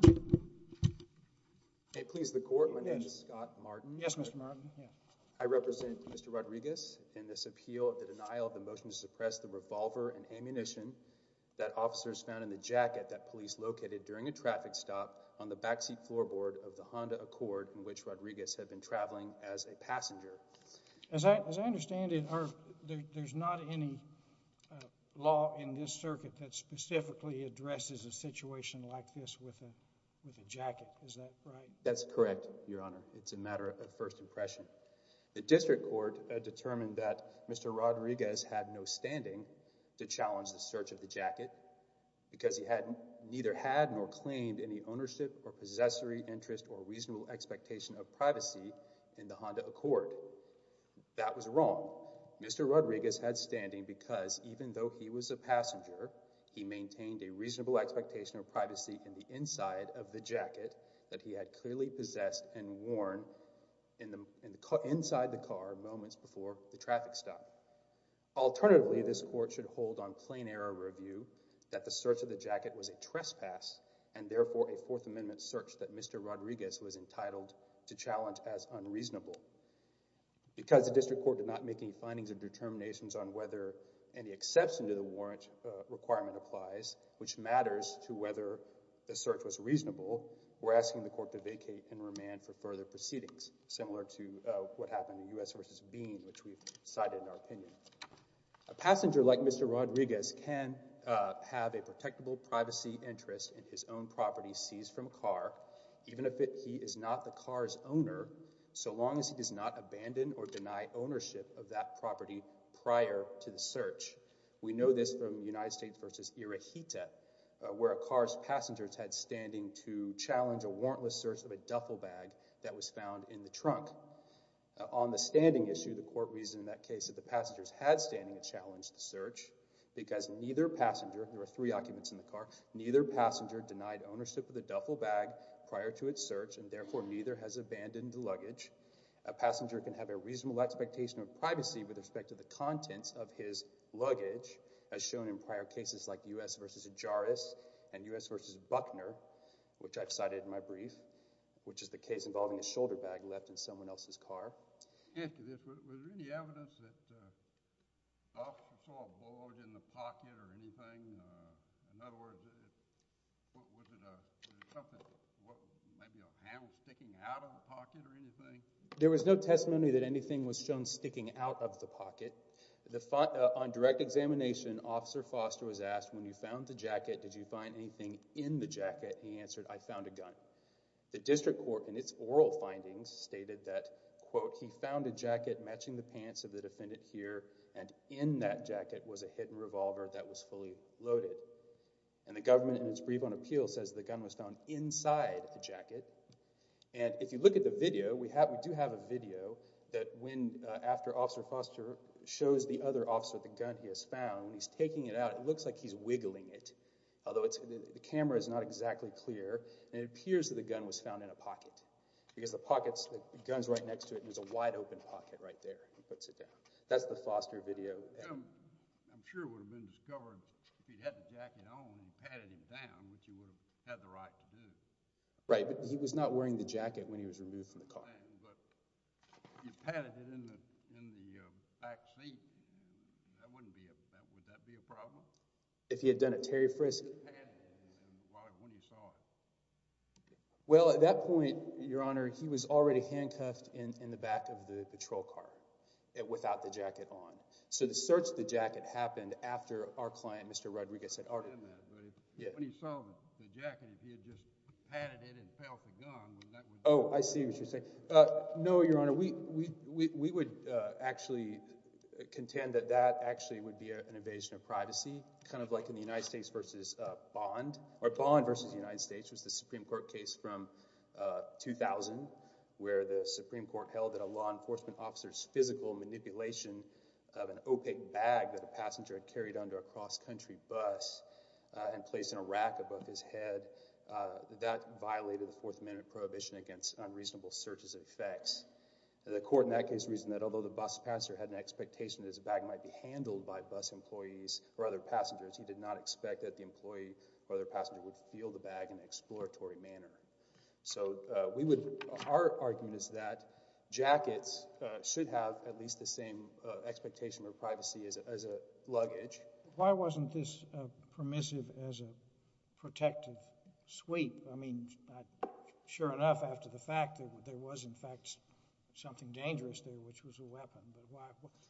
I represent Mr. Rodriguez in this appeal of the denial of the motion to suppress the revolver and ammunition that officers found in the jacket that police located during a traffic stop on the backseat floorboard of the Honda Accord in which Rodriguez had been traveling as a passenger. As I understand it, there's not any law in this circuit that specifically addresses a with a jacket. Is that right? That's correct, Your Honor. It's a matter of first impression. The district court determined that Mr. Rodriguez had no standing to challenge the search of the jacket because he had neither had nor claimed any ownership or possessory interest or reasonable expectation of privacy in the Honda Accord. That was wrong. He had no expectation of privacy in the inside of the jacket that he had clearly possessed and worn inside the car moments before the traffic stop. Alternatively, this court should hold on plain error review that the search of the jacket was a trespass and therefore a Fourth Amendment search that Mr. Rodriguez was entitled to challenge as unreasonable. Because the district court did not make any findings or determinations on whether any exception to the warrant requirement applies, which matters to whether the search was reasonable, we're asking the court to vacate and remand for further proceedings, similar to what happened in U.S. v. Bean, which we've cited in our opinion. A passenger like Mr. Rodriguez can have a protectable privacy interest in his own property seized from a car, even if he is not the car's owner, so long as he does not abandon or deny ownership of that property prior to the search. We know this from U.S. v. Irohita, where a car's passengers had standing to challenge a warrantless search of a duffel bag that was found in the trunk. On the standing issue, the court reasoned in that case that the passengers had standing to challenge the search because neither passenger—there were three occupants in the car—neither passenger denied ownership of the duffel bag prior to its search and therefore neither has abandoned the luggage. A passenger can have a reasonable expectation of privacy with respect to the contents of his luggage, as shown in prior cases like U.S. v. Jarrus and U.S. v. Buckner, which I've cited in my brief, which is the case involving a shoulder bag left in someone else's car. Was there any evidence that the officer saw a bulge in the pocket or anything? In other words, was it something, maybe a hand sticking out of the pocket or anything? There was no testimony that anything was shown sticking out of the pocket. On direct examination, Officer Foster was asked, when you found the jacket, did you find anything in the jacket? He answered, I found a gun. The district court, in its oral findings, stated that, quote, he found a jacket matching the pants of the defendant here and in that jacket was a hidden revolver that was fully loaded. And the government, in its brief on appeal, says the gun was found inside the jacket. And if you look at the video, we do have a video that when, after Officer Foster shows the other officer the gun he has found, he's taking it out, it looks like he's wiggling it, although the camera is not exactly clear and it appears that the gun was found in a pocket. Because the pockets, the gun's right next to it and there's a wide open pocket right there. He puts it down. That's the Foster video. I'm sure it would have been discovered if he'd had the jacket on and patted him down, which he would have had the right to do. Right, but he was not wearing the jacket when he was removed from the car. But if he patted it in the back seat, that wouldn't be, would that be a problem? If he had done a Terry Frisk? If he had patted it, then why, when he saw it? Well, at that point, Your Honor, he was already handcuffed in the back of the patrol car without the jacket on. So the search of the jacket happened after our client, Mr. Rodriguez, had already... I understand that, but when he saw the jacket, if he had just patted it and felt the gun, would that be... Oh, I see what you're saying. No, Your Honor. We would actually contend that that actually would be an invasion of privacy, kind of like in the United States versus Bond, or Bond versus the United States was the Supreme Court case from 2000, where the Supreme Court held that a law enforcement officer's physical manipulation of an opaque bag that a passenger had carried under a cross-country bus and placed in a rack above his head, that violated the Fourth Amendment prohibition against unreasonable searches and effects. The court in that case reasoned that although the bus passenger had an expectation that his bag might be handled by bus employees or other passengers, he did not expect that the employee or other passenger would feel the bag in an exploratory manner. So we would... Our argument is that jackets should have at least the same expectation of privacy as a luggage. Why wasn't this permissive as a protective sweep? I mean, sure enough, after the fact, there was, in fact, something dangerous there, which was a weapon. But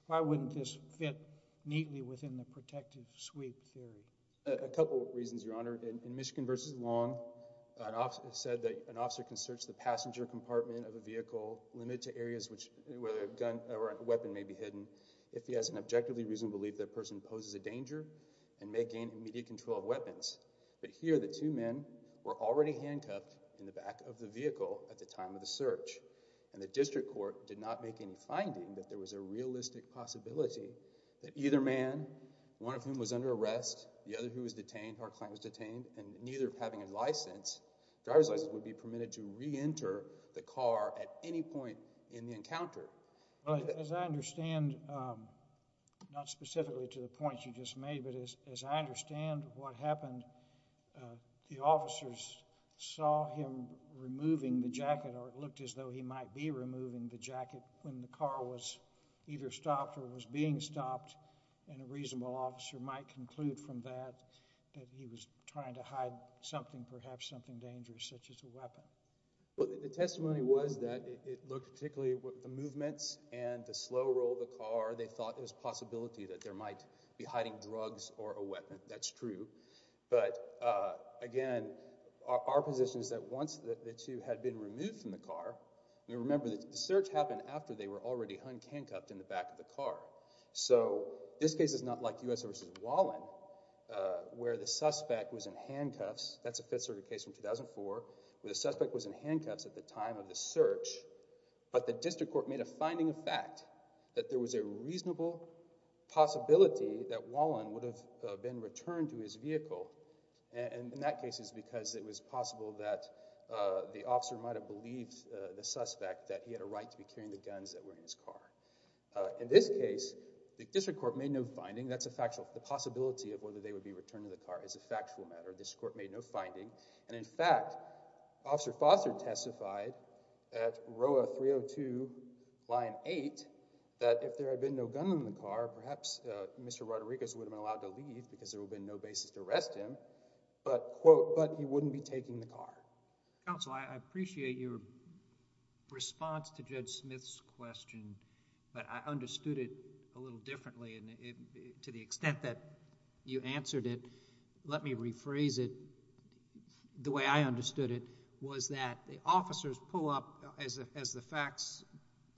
why wouldn't this fit neatly within the protective sweep theory? A couple of reasons, Your Honor. In Michigan versus Long, it said that an officer can search the passenger compartment of a vehicle limited to areas where a gun or a weapon may be hidden if he has an objectively reasonable belief that a person poses a danger and may gain immediate control of weapons. But here, the two men were already handcuffed in the back of the vehicle at the time of the search. And the district court did not make any finding that there was a realistic possibility that either man, one of whom was under arrest, the other who was detained, our client was detained, and neither having a license, driver's license, would be permitted to reenter the car at any point in the encounter. As I understand, not specifically to the points you just made, but as I understand what happened, the officers saw him removing the jacket or it looked as though he might be removing the jacket when the car was either stopped or was being stopped, and a reasonable officer might conclude from that that he was trying to hide something, perhaps something dangerous, such as a weapon. Well, the testimony was that it looked particularly with the movements and the slow roll of the car, they thought it was a possibility that there might be hiding drugs or a weapon. That's true. But, again, our position is that once the two had been removed from the car, we remember that the search happened after they were already handcuffed in the back of the car. So this case is not like US v. Wallen where the suspect was in handcuffs. That's a Fifth Circuit case from 2004 where the suspect was in handcuffs at the time of the search, but the district court made a finding of fact that there was a reasonable possibility that Wallen would have been returned to his vehicle, and in that case it's because it was possible that the officer might have believed the suspect that he had a right to be carrying the guns that were in his car. In this case, the district court made no finding. That's a factual, the possibility of whether they would be returned to the car is a factual matter. The district court made no finding, and in fact, Officer Foster testified at ROA 302 Line 8 that if there had been no gun in the car, perhaps Mr. Rodriguez would have been allowed to leave because there would have been no basis to arrest him, but, quote, but he wouldn't be taking the car. Counsel, I appreciate your response to Judge Smith's question, but I understood it a little differently, and to the extent that you answered it, let me rephrase it the way I understood it, was that the officers pull up, as the facts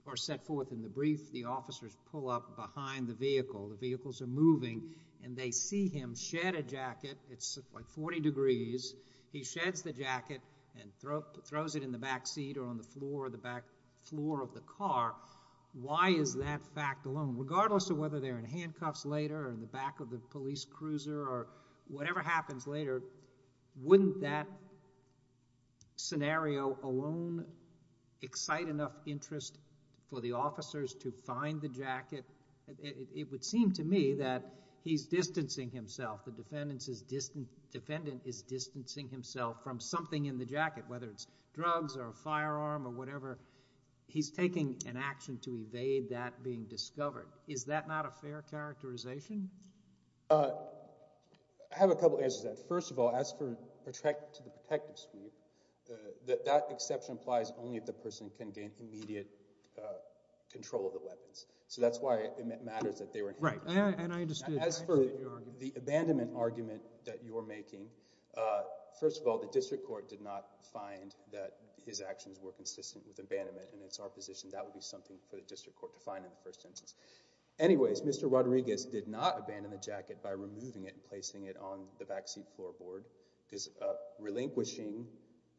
are set forth in the brief, the officers pull up behind the vehicle. The vehicles are moving, and they see him shed a jacket. It's like 40 degrees. He sheds the jacket and throws it in the back seat or on the floor of the car. Why is that fact alone? Regardless of whether they're in handcuffs later or in the back of the police cruiser or whatever happens later, wouldn't that scenario alone excite enough interest for the officers to find the jacket? It would seem to me that he's distancing himself, the defendant is distancing himself from something in the jacket, whether it's drugs or a firearm or whatever. He's taking an action to evade that being discovered. Is that not a fair characterization? I have a couple answers to that. First of all, as for the protective suite, that exception applies only if the person can gain immediate control of the weapons. So that's why it matters that they were in handcuffs. As for the abandonment argument that you're making, first of all, the district court did not find that his actions were consistent with abandonment, and it's our position that would be something for the district court to find in the first instance. Anyways, Mr. Rodriguez did not abandon the jacket by removing it and placing it on the backseat floorboard, because relinquishing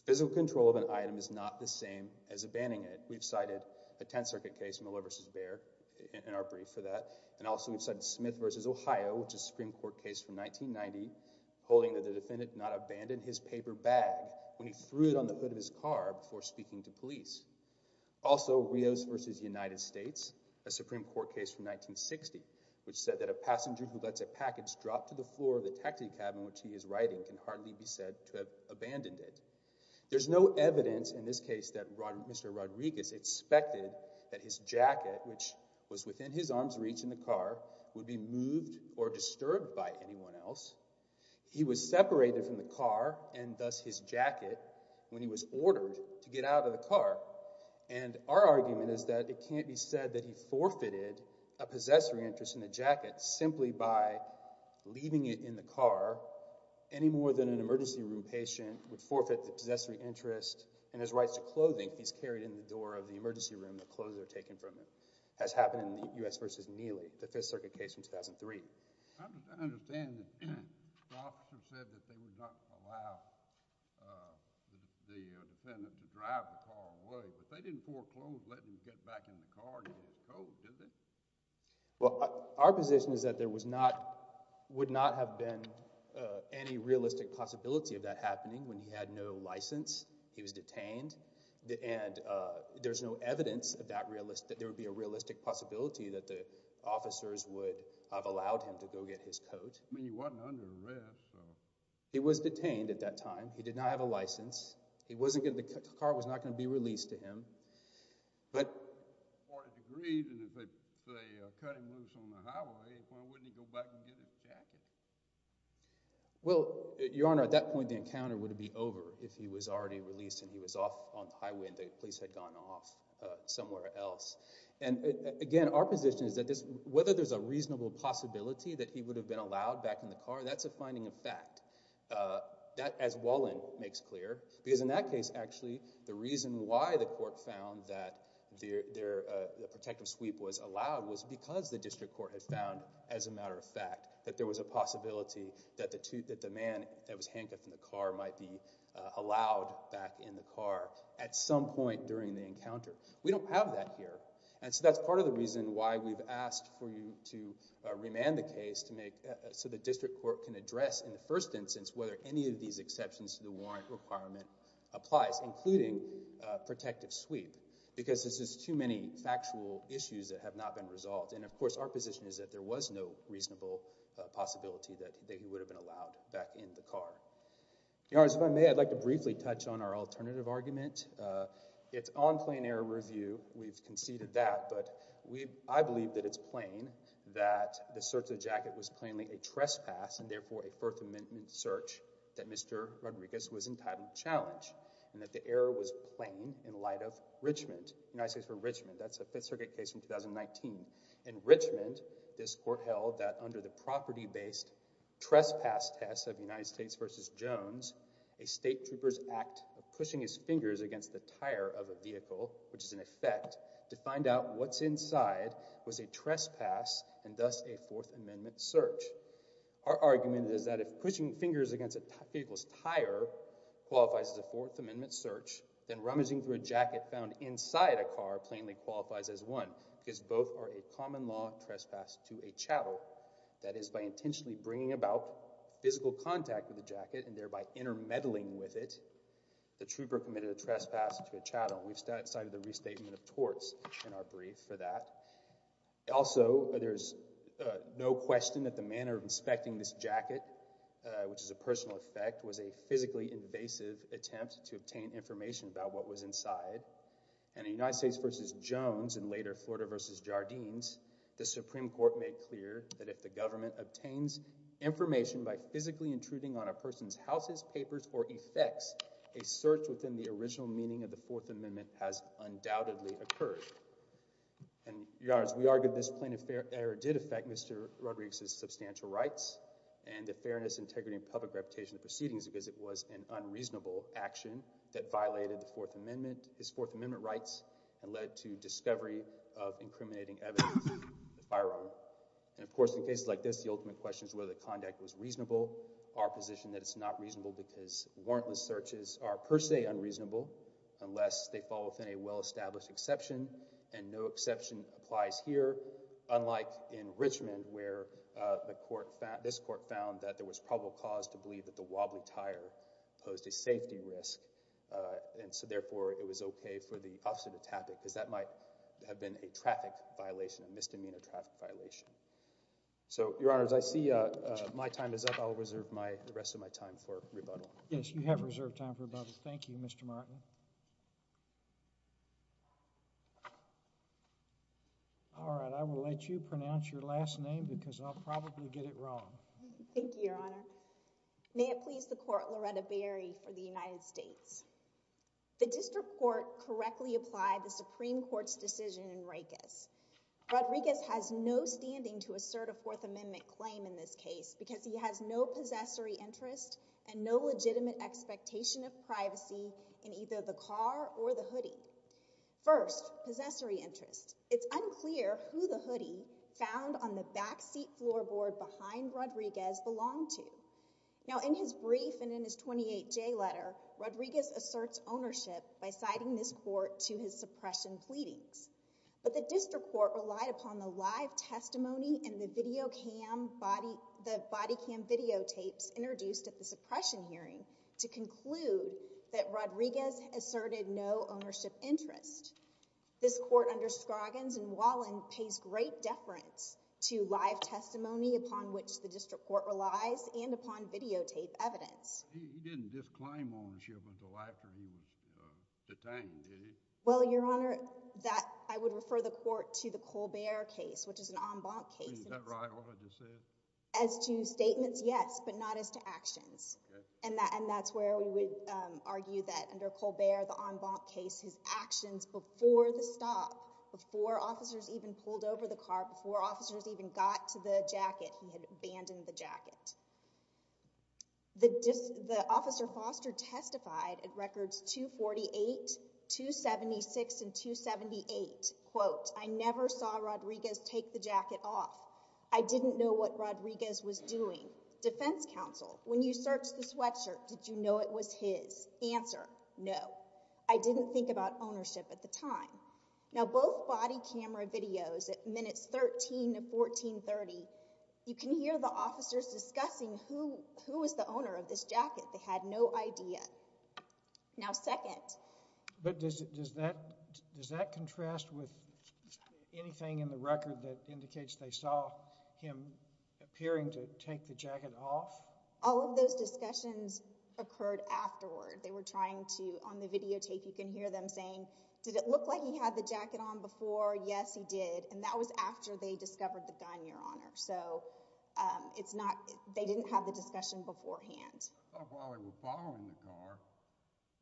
physical control of an item is not the same as abandoning it. We've cited a Tenth Circuit case, Miller v. Baird, in our brief for that, and also we've cited Smith v. Ohio, which is a Supreme Court case from 1990, holding that the defendant did not abandon his paper bag when he threw it on the hood of his car before speaking to police. Also, Rios v. United States, a Supreme Court case from 1960, which said that a passenger who lets a package drop to the floor of the taxi cab in which he is riding can hardly be said to have abandoned it. There's no evidence in this case that Mr. Rodriguez expected that his jacket, which was within his arm's reach in the car, would be moved or disturbed by anyone else. He was separated from the car, and thus his jacket, when he was ordered to get out of the car. And our argument is that it can't be said that he forfeited a possessory interest in the jacket simply by leaving it in the car any more than an emergency room patient would forfeit the possessory interest and his rights to clothing if he's carried in the door of the emergency room, the clothes that are taken from him. It has happened in the U.S. v. Neely, the Fifth Circuit case from 2003. I understand that the officer said that they would not allow the defendant to drive the car away, but they didn't foreclose letting him get back in the car to get his coat, did they? Well, our position is that there would not have been any realistic possibility of that happening when he had no license, he was detained, and there's no evidence that there would be a realistic possibility that the officers would have allowed him to go get his coat. I mean, he wasn't under arrest. He was detained at that time. He did not have a license. The car was not going to be released to him. But the court has agreed that if they cut him loose on the highway, why wouldn't he go back and get his jacket? Well, Your Honor, at that point the encounter would be over if he was already released and he was off on the highway and the police had gone off somewhere else. And, again, our position is that whether there's a reasonable possibility that he would have been allowed back in the car, that's a finding of fact. That, as Wallin makes clear, because in that case, actually, the reason why the court found that the protective sweep was allowed was because the district court had found, as a matter of fact, that there was a possibility that the man that was handcuffed in the car might be allowed back in the car at some point during the encounter. We don't have that here. And so that's part of the reason why we've asked for you to remand the case so the district court can address, in the first instance, whether any of these exceptions to the warrant requirement applies, including protective sweep, because this is too many factual issues that have not been resolved. And, of course, our position is that there was no reasonable possibility that he would have been allowed back in the car. Your Honors, if I may, I'd like to briefly touch on our alternative argument. It's on plain error review. We've conceded that. But I believe that it's plain that the search of the jacket was plainly a trespass and, therefore, a First Amendment search that Mr. Rodriguez was entitled to challenge and that the error was plain in light of Richmond, United States v. Richmond. That's a Fifth Circuit case from 2019. In Richmond, this court held that under the property-based trespass test of United States v. Jones, a state trooper's act of pushing his fingers against the tire of a vehicle, which is an effect, to find out what's inside was a trespass and thus a Fourth Amendment search. Our argument is that if pushing fingers against a vehicle's tire qualifies as a Fourth Amendment search, then rummaging through a jacket found inside a car plainly qualifies as one because both are a common-law trespass to a chattel. That is, by intentionally bringing about physical contact with the jacket and thereby intermeddling with it, the trooper committed a trespass to a chattel. We've cited the restatement of torts in our brief for that. Also, there's no question that the manner of inspecting this jacket, which is a personal effect, was a physically invasive attempt to obtain information about what was inside. And in United States v. Jones, and later Florida v. Jardines, the Supreme Court made clear that if the government obtains information by physically intruding on a person's houses, papers, or effects, a search within the original meaning of the Fourth Amendment has undoubtedly occurred. And, Your Honors, we argue this plaintiff's error did affect Mr. Rodriguez's substantial rights and the fairness, integrity, and public reputation of the proceedings because it was an unreasonable action that violated the Fourth Amendment, his Fourth Amendment rights, and led to discovery of incriminating evidence in the firearm. And, of course, in cases like this, the ultimate question is whether the conduct was reasonable. Our position is that it's not reasonable because warrantless searches are per se unreasonable unless they fall within a well-established exception, and no exception applies here, unlike in Richmond, where this court found that there was probable cause to believe that a wobbly tire posed a safety risk, and so, therefore, it was okay for the officer to tap it because that might have been a traffic violation, a misdemeanor traffic violation. So, Your Honors, I see my time is up. I'll reserve the rest of my time for rebuttal. Yes, you have reserved time for rebuttal. Thank you, Mr. Martin. All right, I will let you pronounce your last name because I'll probably get it wrong. Thank you, Your Honor. May it please the Court, Loretta Berry for the United States. The District Court correctly applied the Supreme Court's decision in Reikis. Rodriguez has no standing to assert a Fourth Amendment claim in this case because he has no possessory interest and no legitimate expectation of privacy in either the car or the hoodie. First, possessory interest. It's unclear who the hoodie found on the backseat floorboard behind Rodriguez belonged to. Now, in his brief and in his 28J letter, Rodriguez asserts ownership by citing this court to his suppression pleadings. But the District Court relied upon the live testimony and the body cam videotapes introduced at the suppression hearing to conclude that Rodriguez asserted no ownership interest. This court under Scroggins and Wallin pays great deference to live testimony upon which the District Court relies and upon videotape evidence. He didn't disclaim ownership until after he was detained, did he? Well, Your Honor, I would refer the court to the Colbert case, which is an en banc case. Is that right, what I just said? And that's where we would argue that under Colbert, the en banc case, his actions before the stop, before officers even pulled over the car, before officers even got to the jacket, he had abandoned the jacket. The officer Foster testified at records 248, 276, and 278, quote, I never saw Rodriguez take the jacket off. I didn't know what Rodriguez was doing. Defense counsel, when you searched the sweatshirt, did you know it was his? Answer, no. I didn't think about ownership at the time. Now, both body camera videos at minutes 13 to 1430, you can hear the officers discussing who was the owner of this jacket. They had no idea. Now, second. But does that contrast with anything in the record that indicates they saw him appearing to take the jacket off? All of those discussions occurred afterward. They were trying to, on the videotape, you can hear them saying, did it look like he had the jacket on before? Yes, he did. And that was after they discovered the gun, Your Honor. So it's not, they didn't have the discussion beforehand. I thought while they were following the car,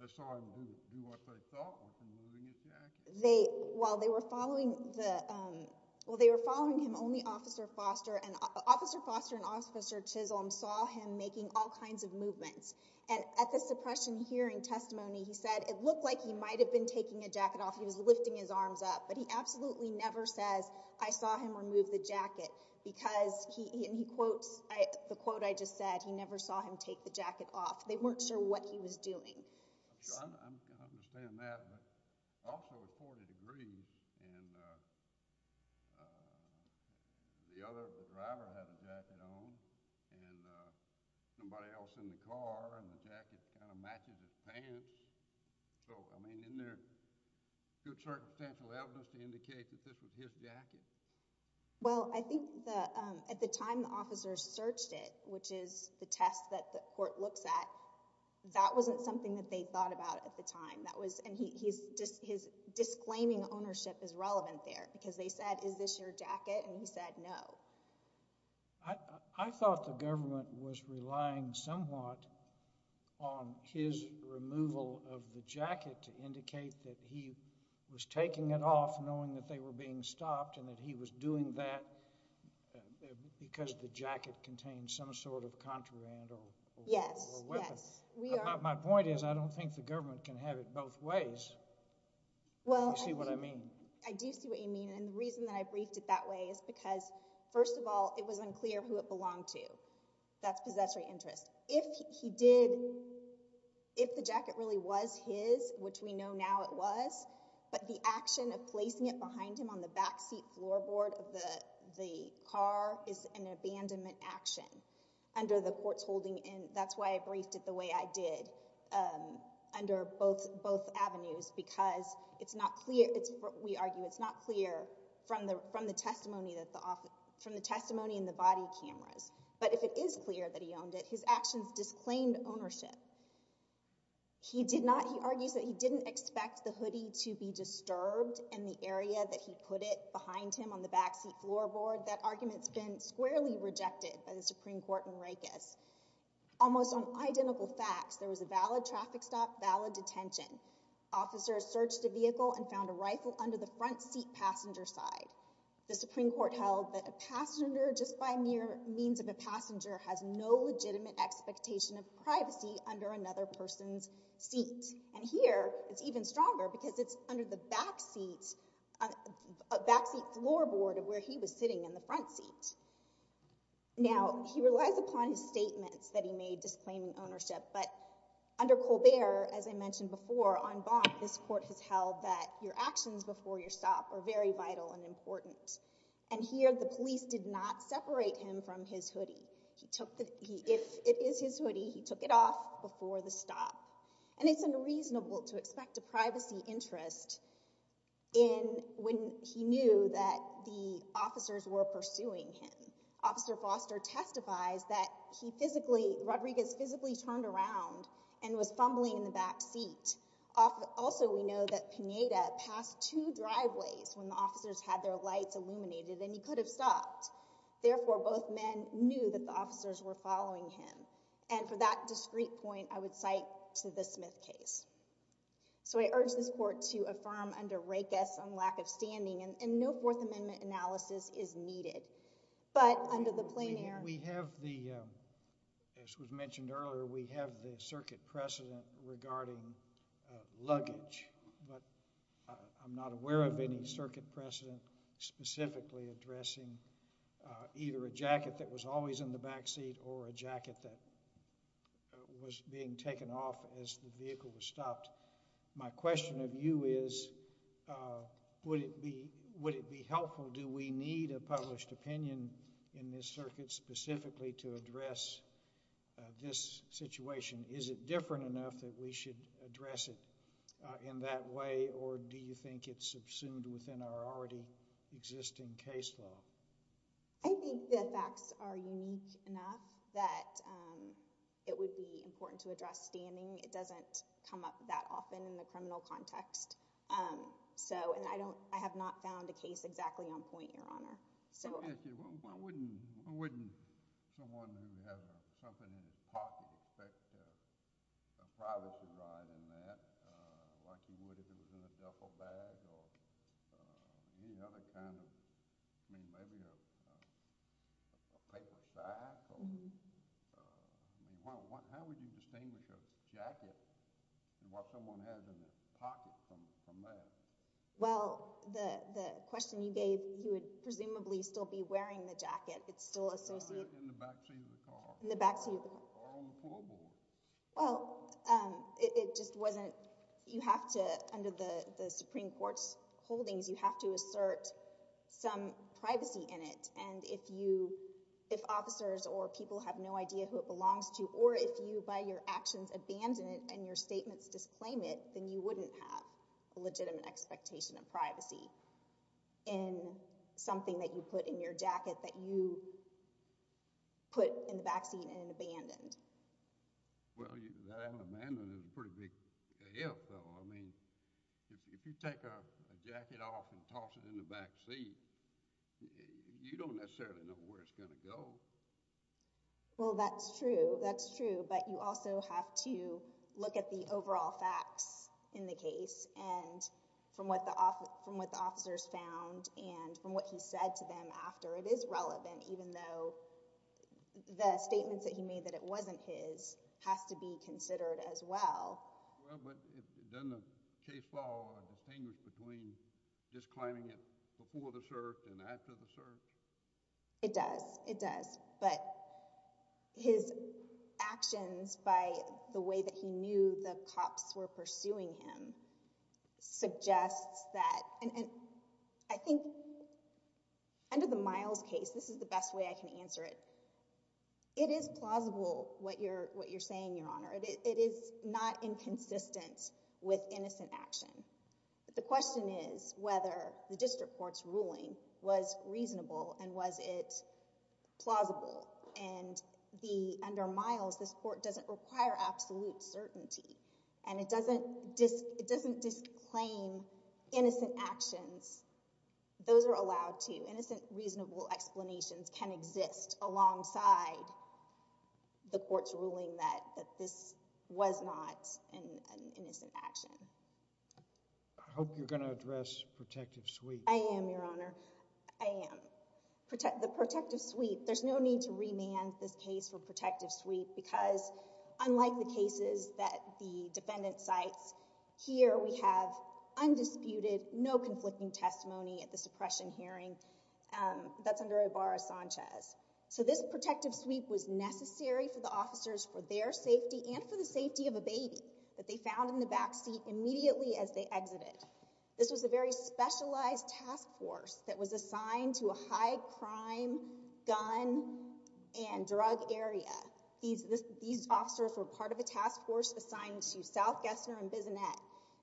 they saw him do what they thought was removing his jacket. While they were following him, only Officer Foster and Officer Chisholm saw him making all kinds of movements. And at the suppression hearing testimony, he said, it looked like he might have been taking a jacket off. He was lifting his arms up. But he absolutely never says, I saw him remove the jacket. Because he quotes the quote I just said. He never saw him take the jacket off. They weren't sure what he was doing. I'm sure I understand that. But also the court agrees. And the other driver had a jacket on. And somebody else in the car, and the jacket kind of matches his pants. So, I mean, isn't there good circumstantial evidence to indicate that this was his jacket? Well, I think at the time the officers searched it, which is the test that the court looks at, that wasn't something that they thought about at the time. And his disclaiming ownership is relevant there. Because they said, is this your jacket? And he said, no. I thought the government was relying somewhat on his removal of the jacket to indicate that he was taking it off, knowing that they were being stopped, and that he was doing that because the jacket contained some sort of contraband or weapon. My point is, I don't think the government can have it both ways. Do you see what I mean? I do see what you mean. And the reason that I briefed it that way is because, first of all, it was unclear who it belonged to. That's possessory interest. If he did, if the jacket really was his, which we know now it was, but the action of placing it behind him on the backseat floorboard of the car is an abandonment action under the court's holding. And that's why I briefed it the way I did, under both avenues, because it's not clear, we argue, it's not clear from the testimony in the body cameras. But if it is clear that he owned it, his actions disclaimed ownership. He did not, he argues that he didn't expect the hoodie to be disturbed in the area that he put it behind him on the backseat floorboard. That argument's been squarely rejected by the Supreme Court in Rikers. Almost on identical facts, there was a valid traffic stop, valid detention. Officers searched the vehicle and found a rifle under the front seat passenger side. The Supreme Court held that a passenger, just by mere means of a passenger, has no legitimate expectation of privacy under another person's seat. And here, it's even stronger because it's under the backseat floorboard of where he was sitting in the front seat. Now, he relies upon his statements that he made disclaiming ownership, but under Colbert, as I mentioned before, on Bonk, this court has held that your actions before your stop are very vital and important. And here, the police did not separate him from his hoodie. If it is his hoodie, he took it off before the stop. And it's unreasonable to expect a privacy interest when he knew that the officers were pursuing him. Officer Foster testifies that Rodriguez physically turned around and was fumbling in the backseat. Also, we know that Pineda passed two driveways when the officers had their lights illuminated and he could have stopped. Therefore, both men knew that the officers were following him. And for that discrete point, I would cite to the Smith case. So, I urge this court to affirm under Rakes on lack of standing. And no Fourth Amendment analysis is needed. But under the plein air... We have the, as was mentioned earlier, we have the circuit precedent regarding luggage. But I'm not aware of any circuit precedent specifically addressing either a jacket that was always in the backseat or a jacket that was being taken off as the vehicle was stopped. My question of you is, would it be helpful, do we need a published opinion in this circuit specifically to address this situation? Is it different enough that we should address it in that way? Or do you think it's subsumed within our already existing case law? I think the facts are unique enough that it would be important to address standing. It doesn't come up that often in the criminal context. So, and I don't, I have not found a case exactly on point, Your Honor. Why wouldn't someone who has something in his pocket expect a privacy right in that, like you would if it was in a duffel bag or any other kind of, I mean, maybe a paper sack? How would you distinguish a jacket and what someone has in their pocket from that? Well, the question you gave, he would presumably still be wearing the jacket. It's still associated. I see it in the backseat of the car. In the backseat of the car. Or on the floorboard. Well, it just wasn't, you have to, under the Supreme Court's holdings, you have to assert some privacy in it. And if you, if officers or people have no idea who it belongs to, or if you by your legitimate expectation of privacy in something that you put in your jacket that you put in the backseat and abandoned. Well, that abandonment is a pretty big if, though. I mean, if you take a jacket off and toss it in the backseat, you don't necessarily know where it's going to go. Well, that's true. That's true. But you also have to look at the overall facts in the case and from what the officers found and from what he said to them after. It is relevant, even though the statements that he made that it wasn't his has to be considered as well. Well, but doesn't the case follow a distinguish between just claiming it before the search and after the search? It does. It does. But his actions by the way that he knew the cops were pursuing him suggests that, and I think under the Miles case, this is the best way I can answer it. It is plausible what you're saying, Your Honor. It is not inconsistent with innocent action. The question is whether the district court's ruling was reasonable and was it plausible. And under Miles, this court doesn't require absolute certainty. And it doesn't disclaim innocent actions. Those are allowed to. Innocent, reasonable explanations can exist alongside the court's ruling that this was not an innocent action. I hope you're going to address protective sweep. I am, Your Honor. I am. The protective sweep, there's no need to remand this case for protective sweep because unlike the cases that the defendant cites, here we have undisputed, no conflicting testimony at the suppression hearing that's under Ibarra Sanchez. So this protective sweep was necessary for the officers for their safety and for the baby that they found in the backseat immediately as they exited. This was a very specialized task force that was assigned to a high crime, gun, and drug area. These officers were part of a task force assigned to South Gessner and Bissonette.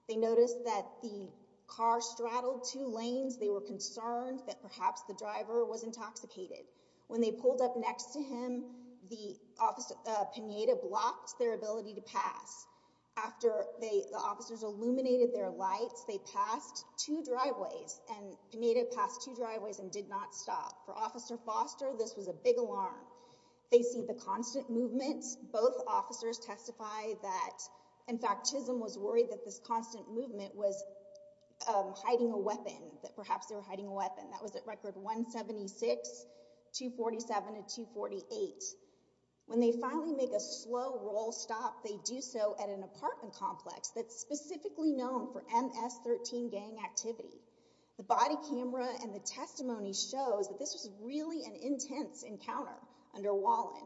They noticed that the car straddled two lanes. They were concerned that perhaps the driver was intoxicated. When they pulled up next to him, the officer, Pineda, blocked their ability to pass. After the officers illuminated their lights, they passed two driveways, and Pineda passed two driveways and did not stop. For Officer Foster, this was a big alarm. They see the constant movement. Both officers testify that, in fact, Chisholm was worried that this constant movement was hiding a weapon, that perhaps they were hiding a weapon. That was at record 176, 247, and 248. When they finally make a slow roll stop, they do so at an apartment complex that's specifically known for MS-13 gang activity. The body camera and the testimony shows that this was really an intense encounter under Wallin.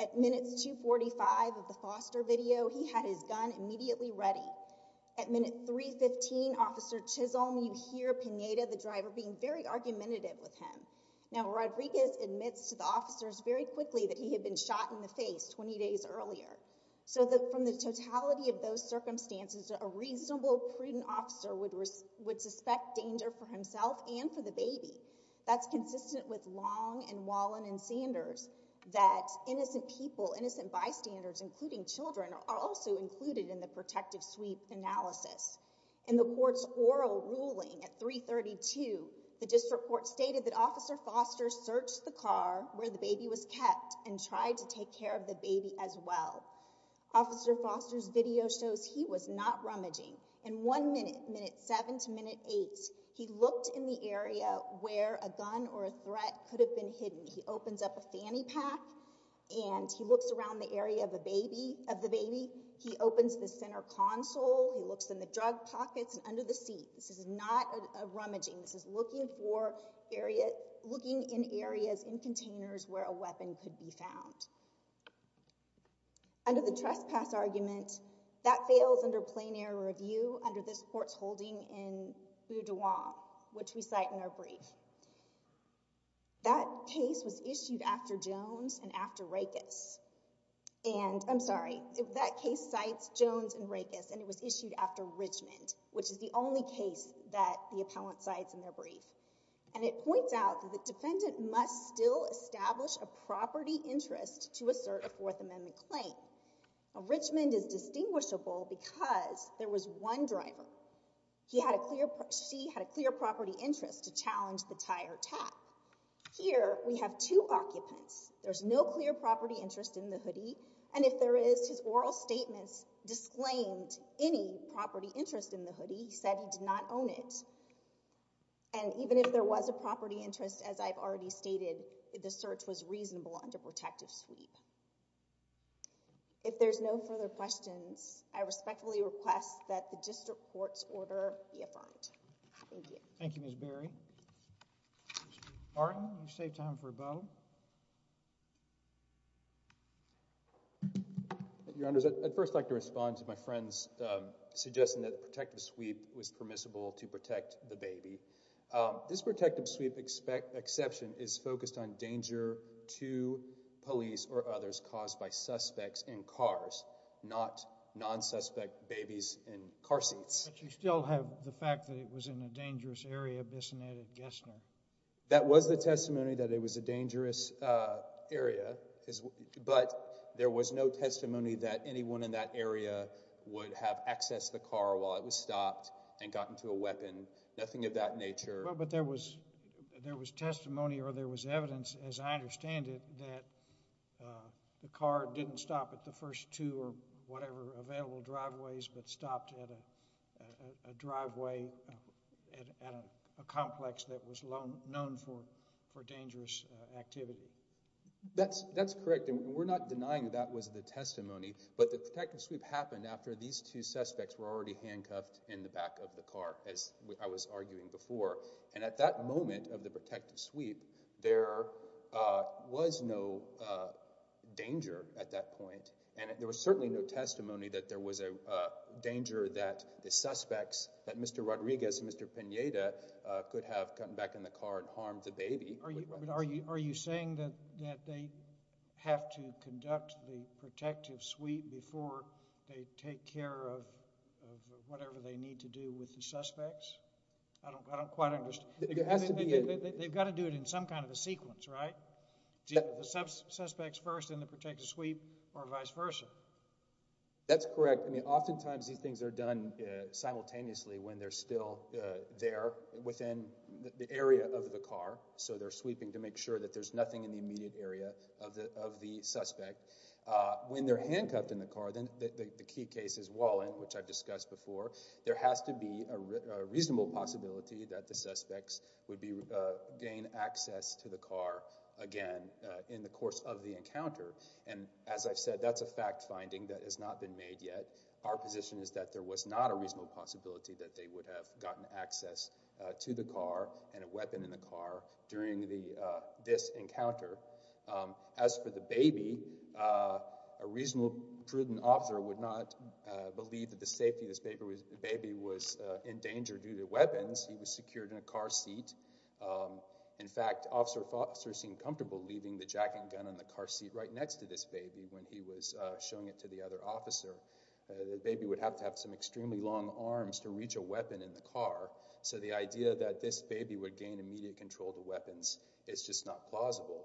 At minutes 245 of the Foster video, he had his gun immediately ready. At minute 315, Officer Chisholm, you hear Pineda, the driver, being very argumentative with him. Now, Rodriguez admits to the officers very quickly that he had been shot in the face 20 days earlier. From the totality of those circumstances, a reasonable, prudent officer would suspect danger for himself and for the baby. That's consistent with Long and Wallin and Sanders, that innocent people, innocent bystanders, including children, are also included in the protective sweep analysis. In the court's oral ruling at 332, the district court stated that Officer Foster searched the car where the baby was kept and tried to take care of the baby as well. Officer Foster's video shows he was not rummaging. In one minute, minute 7 to minute 8, he looked in the area where a gun or a threat could have been hidden. He opens up a fanny pack and he looks around the area of the baby. He opens the center console. He looks in the drug pockets and under the seat. This is not a rummaging. This is looking in areas in containers where a weapon could be found. Under the trespass argument, that fails under plein air review under this court's holding in Boudouin, which we cite in our brief. That case was issued after Jones and after Rakes. And, I'm sorry, that case cites Jones and Rakes, and it was issued after Richmond, which is the only case that the appellant cites in their brief. And it points out that the defendant must still establish a property interest to assert a Fourth Amendment claim. Now, Richmond is distinguishable because there was one driver. She had a clear property interest to challenge the tire tap. Here, we have two occupants. There's no clear property interest in the hoodie, and if there is, his oral statements disclaimed any property interest in the hoodie. He said he did not own it. And even if there was a property interest, as I've already stated, the search was reasonable under protective sweep. If there's no further questions, I respectfully request that the district court's order be affirmed. Thank you. Thank you, Ms. Berry. Mr. Barton, you've saved time for a bow. Your Honors, I'd first like to respond to my friend's suggestion that protective sweep was permissible to protect the baby. This protective sweep exception is focused on danger to police or others caused by suspects in cars, not non-suspect babies in car seats. That was the testimony that it was a dangerous area, but there was no testimony that anyone in that area would have accessed the car while it was stopped and gotten to a weapon. Nothing of that nature. But there was testimony or there was evidence, as I understand it, that the car didn't stop at the first two or whatever available driveways, but stopped at a driveway at a complex that was known for dangerous activity. That's correct, and we're not denying that that was the testimony. But the protective sweep happened after these two suspects were already handcuffed in the back of the car, as I was arguing before. And at that moment of the protective sweep, there was no danger at that point, and there was certainly no testimony that there was a danger that the suspects, that Mr. Rodriguez and Mr. Pineda, could have gotten back in the car and harmed the baby. Are you saying that they have to conduct the protective sweep before they take care of whatever they need to do with the suspects? I don't quite understand. They've got to do it in some kind of a sequence, right? Do you put the suspects first in the protective sweep or vice versa? That's correct. I mean, oftentimes these things are done simultaneously when they're still there within the area of the car. So they're sweeping to make sure that there's nothing in the immediate area of the suspect. When they're handcuffed in the car, the key case is Wallin, which I've discussed before. There has to be a reasonable possibility that the suspects would gain access to the car again in the course of the encounter. And as I've said, that's a fact finding that has not been made yet. Our position is that there was not a reasonable possibility that they would have gotten access to the car and a weapon in the car during this encounter. As for the baby, a reasonable, prudent officer would not believe that the safety of this baby was in danger due to weapons. He was secured in a car seat. In fact, Officer Foster seemed comfortable leaving the jacket and gun in the car seat right next to this baby when he was showing it to the other officer. The baby would have to have some extremely long arms to reach a weapon in the car. So the idea that this baby would gain immediate control of the weapons is just not plausible.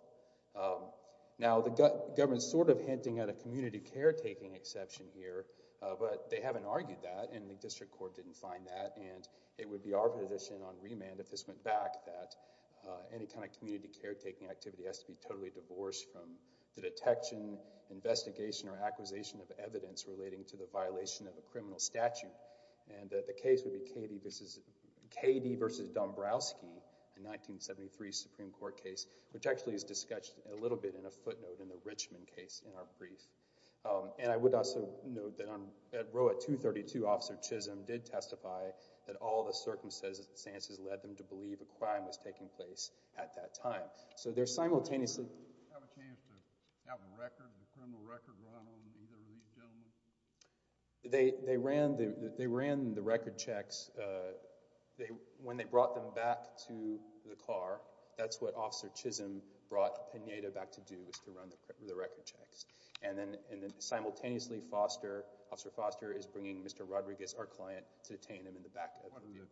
Now, the government is sort of hinting at a community caretaking exception here, but they haven't argued that, and the District Court didn't find that. And it would be our position on remand if this went back that any kind of community caretaking activity has to be totally divorced from the detection, investigation, or acquisition of evidence relating to the violation of a criminal statute. The case would be K.D. v. Dombrowski, a 1973 Supreme Court case, which actually is discussed a little bit in a footnote in the Richmond case in our brief. And I would also note that Rowett 232, Officer Chisholm, did testify that all the circumstances led them to believe a crime was taking place at that time. So they're simultaneously… They ran the record checks. When they brought them back to the car, that's what Officer Chisholm brought Pineda back to do, was to run the record checks. And then simultaneously, Officer Foster is bringing Mr. Rodriguez, our client, to detain him in the back of the vehicle.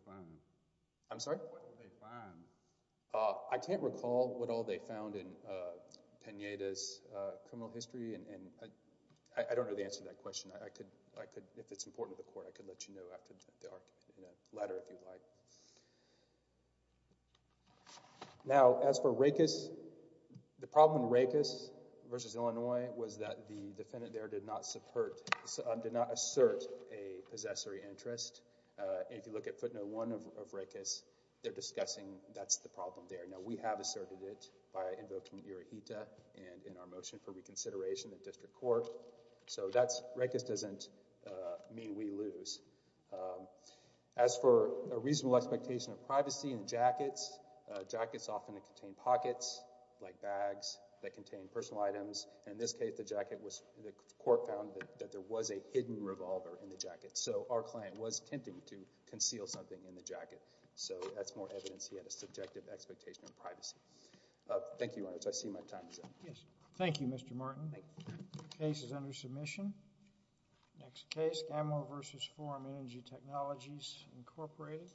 I'm sorry? What did they find? I can't recall what all they found in Pineda's criminal history. I don't know the answer to that question. If it's important to the court, I could let you know after the argument in a letter if you'd like. Now, as for Rakus, the problem in Rakus v. Illinois was that the defendant there did not assert a possessory interest. If you look at footnote 1 of Rakus, they're discussing that's the problem there. Now, we have asserted it by invoking Irohita and in our motion for reconsideration in district So that's… Rakus doesn't mean we lose. As for a reasonable expectation of privacy in jackets, jackets often contain pockets like bags that contain personal items. In this case, the court found that there was a hidden revolver in the jacket. So our client was attempting to conceal something in the jacket. So that's more evidence he had a subjective expectation of privacy. Thank you, Your Honor. I see my time is up. Yes. Thank you, Mr. Martin. The case is under submission. Next case, Gamow v. Forum Energy Technologies, Incorporated.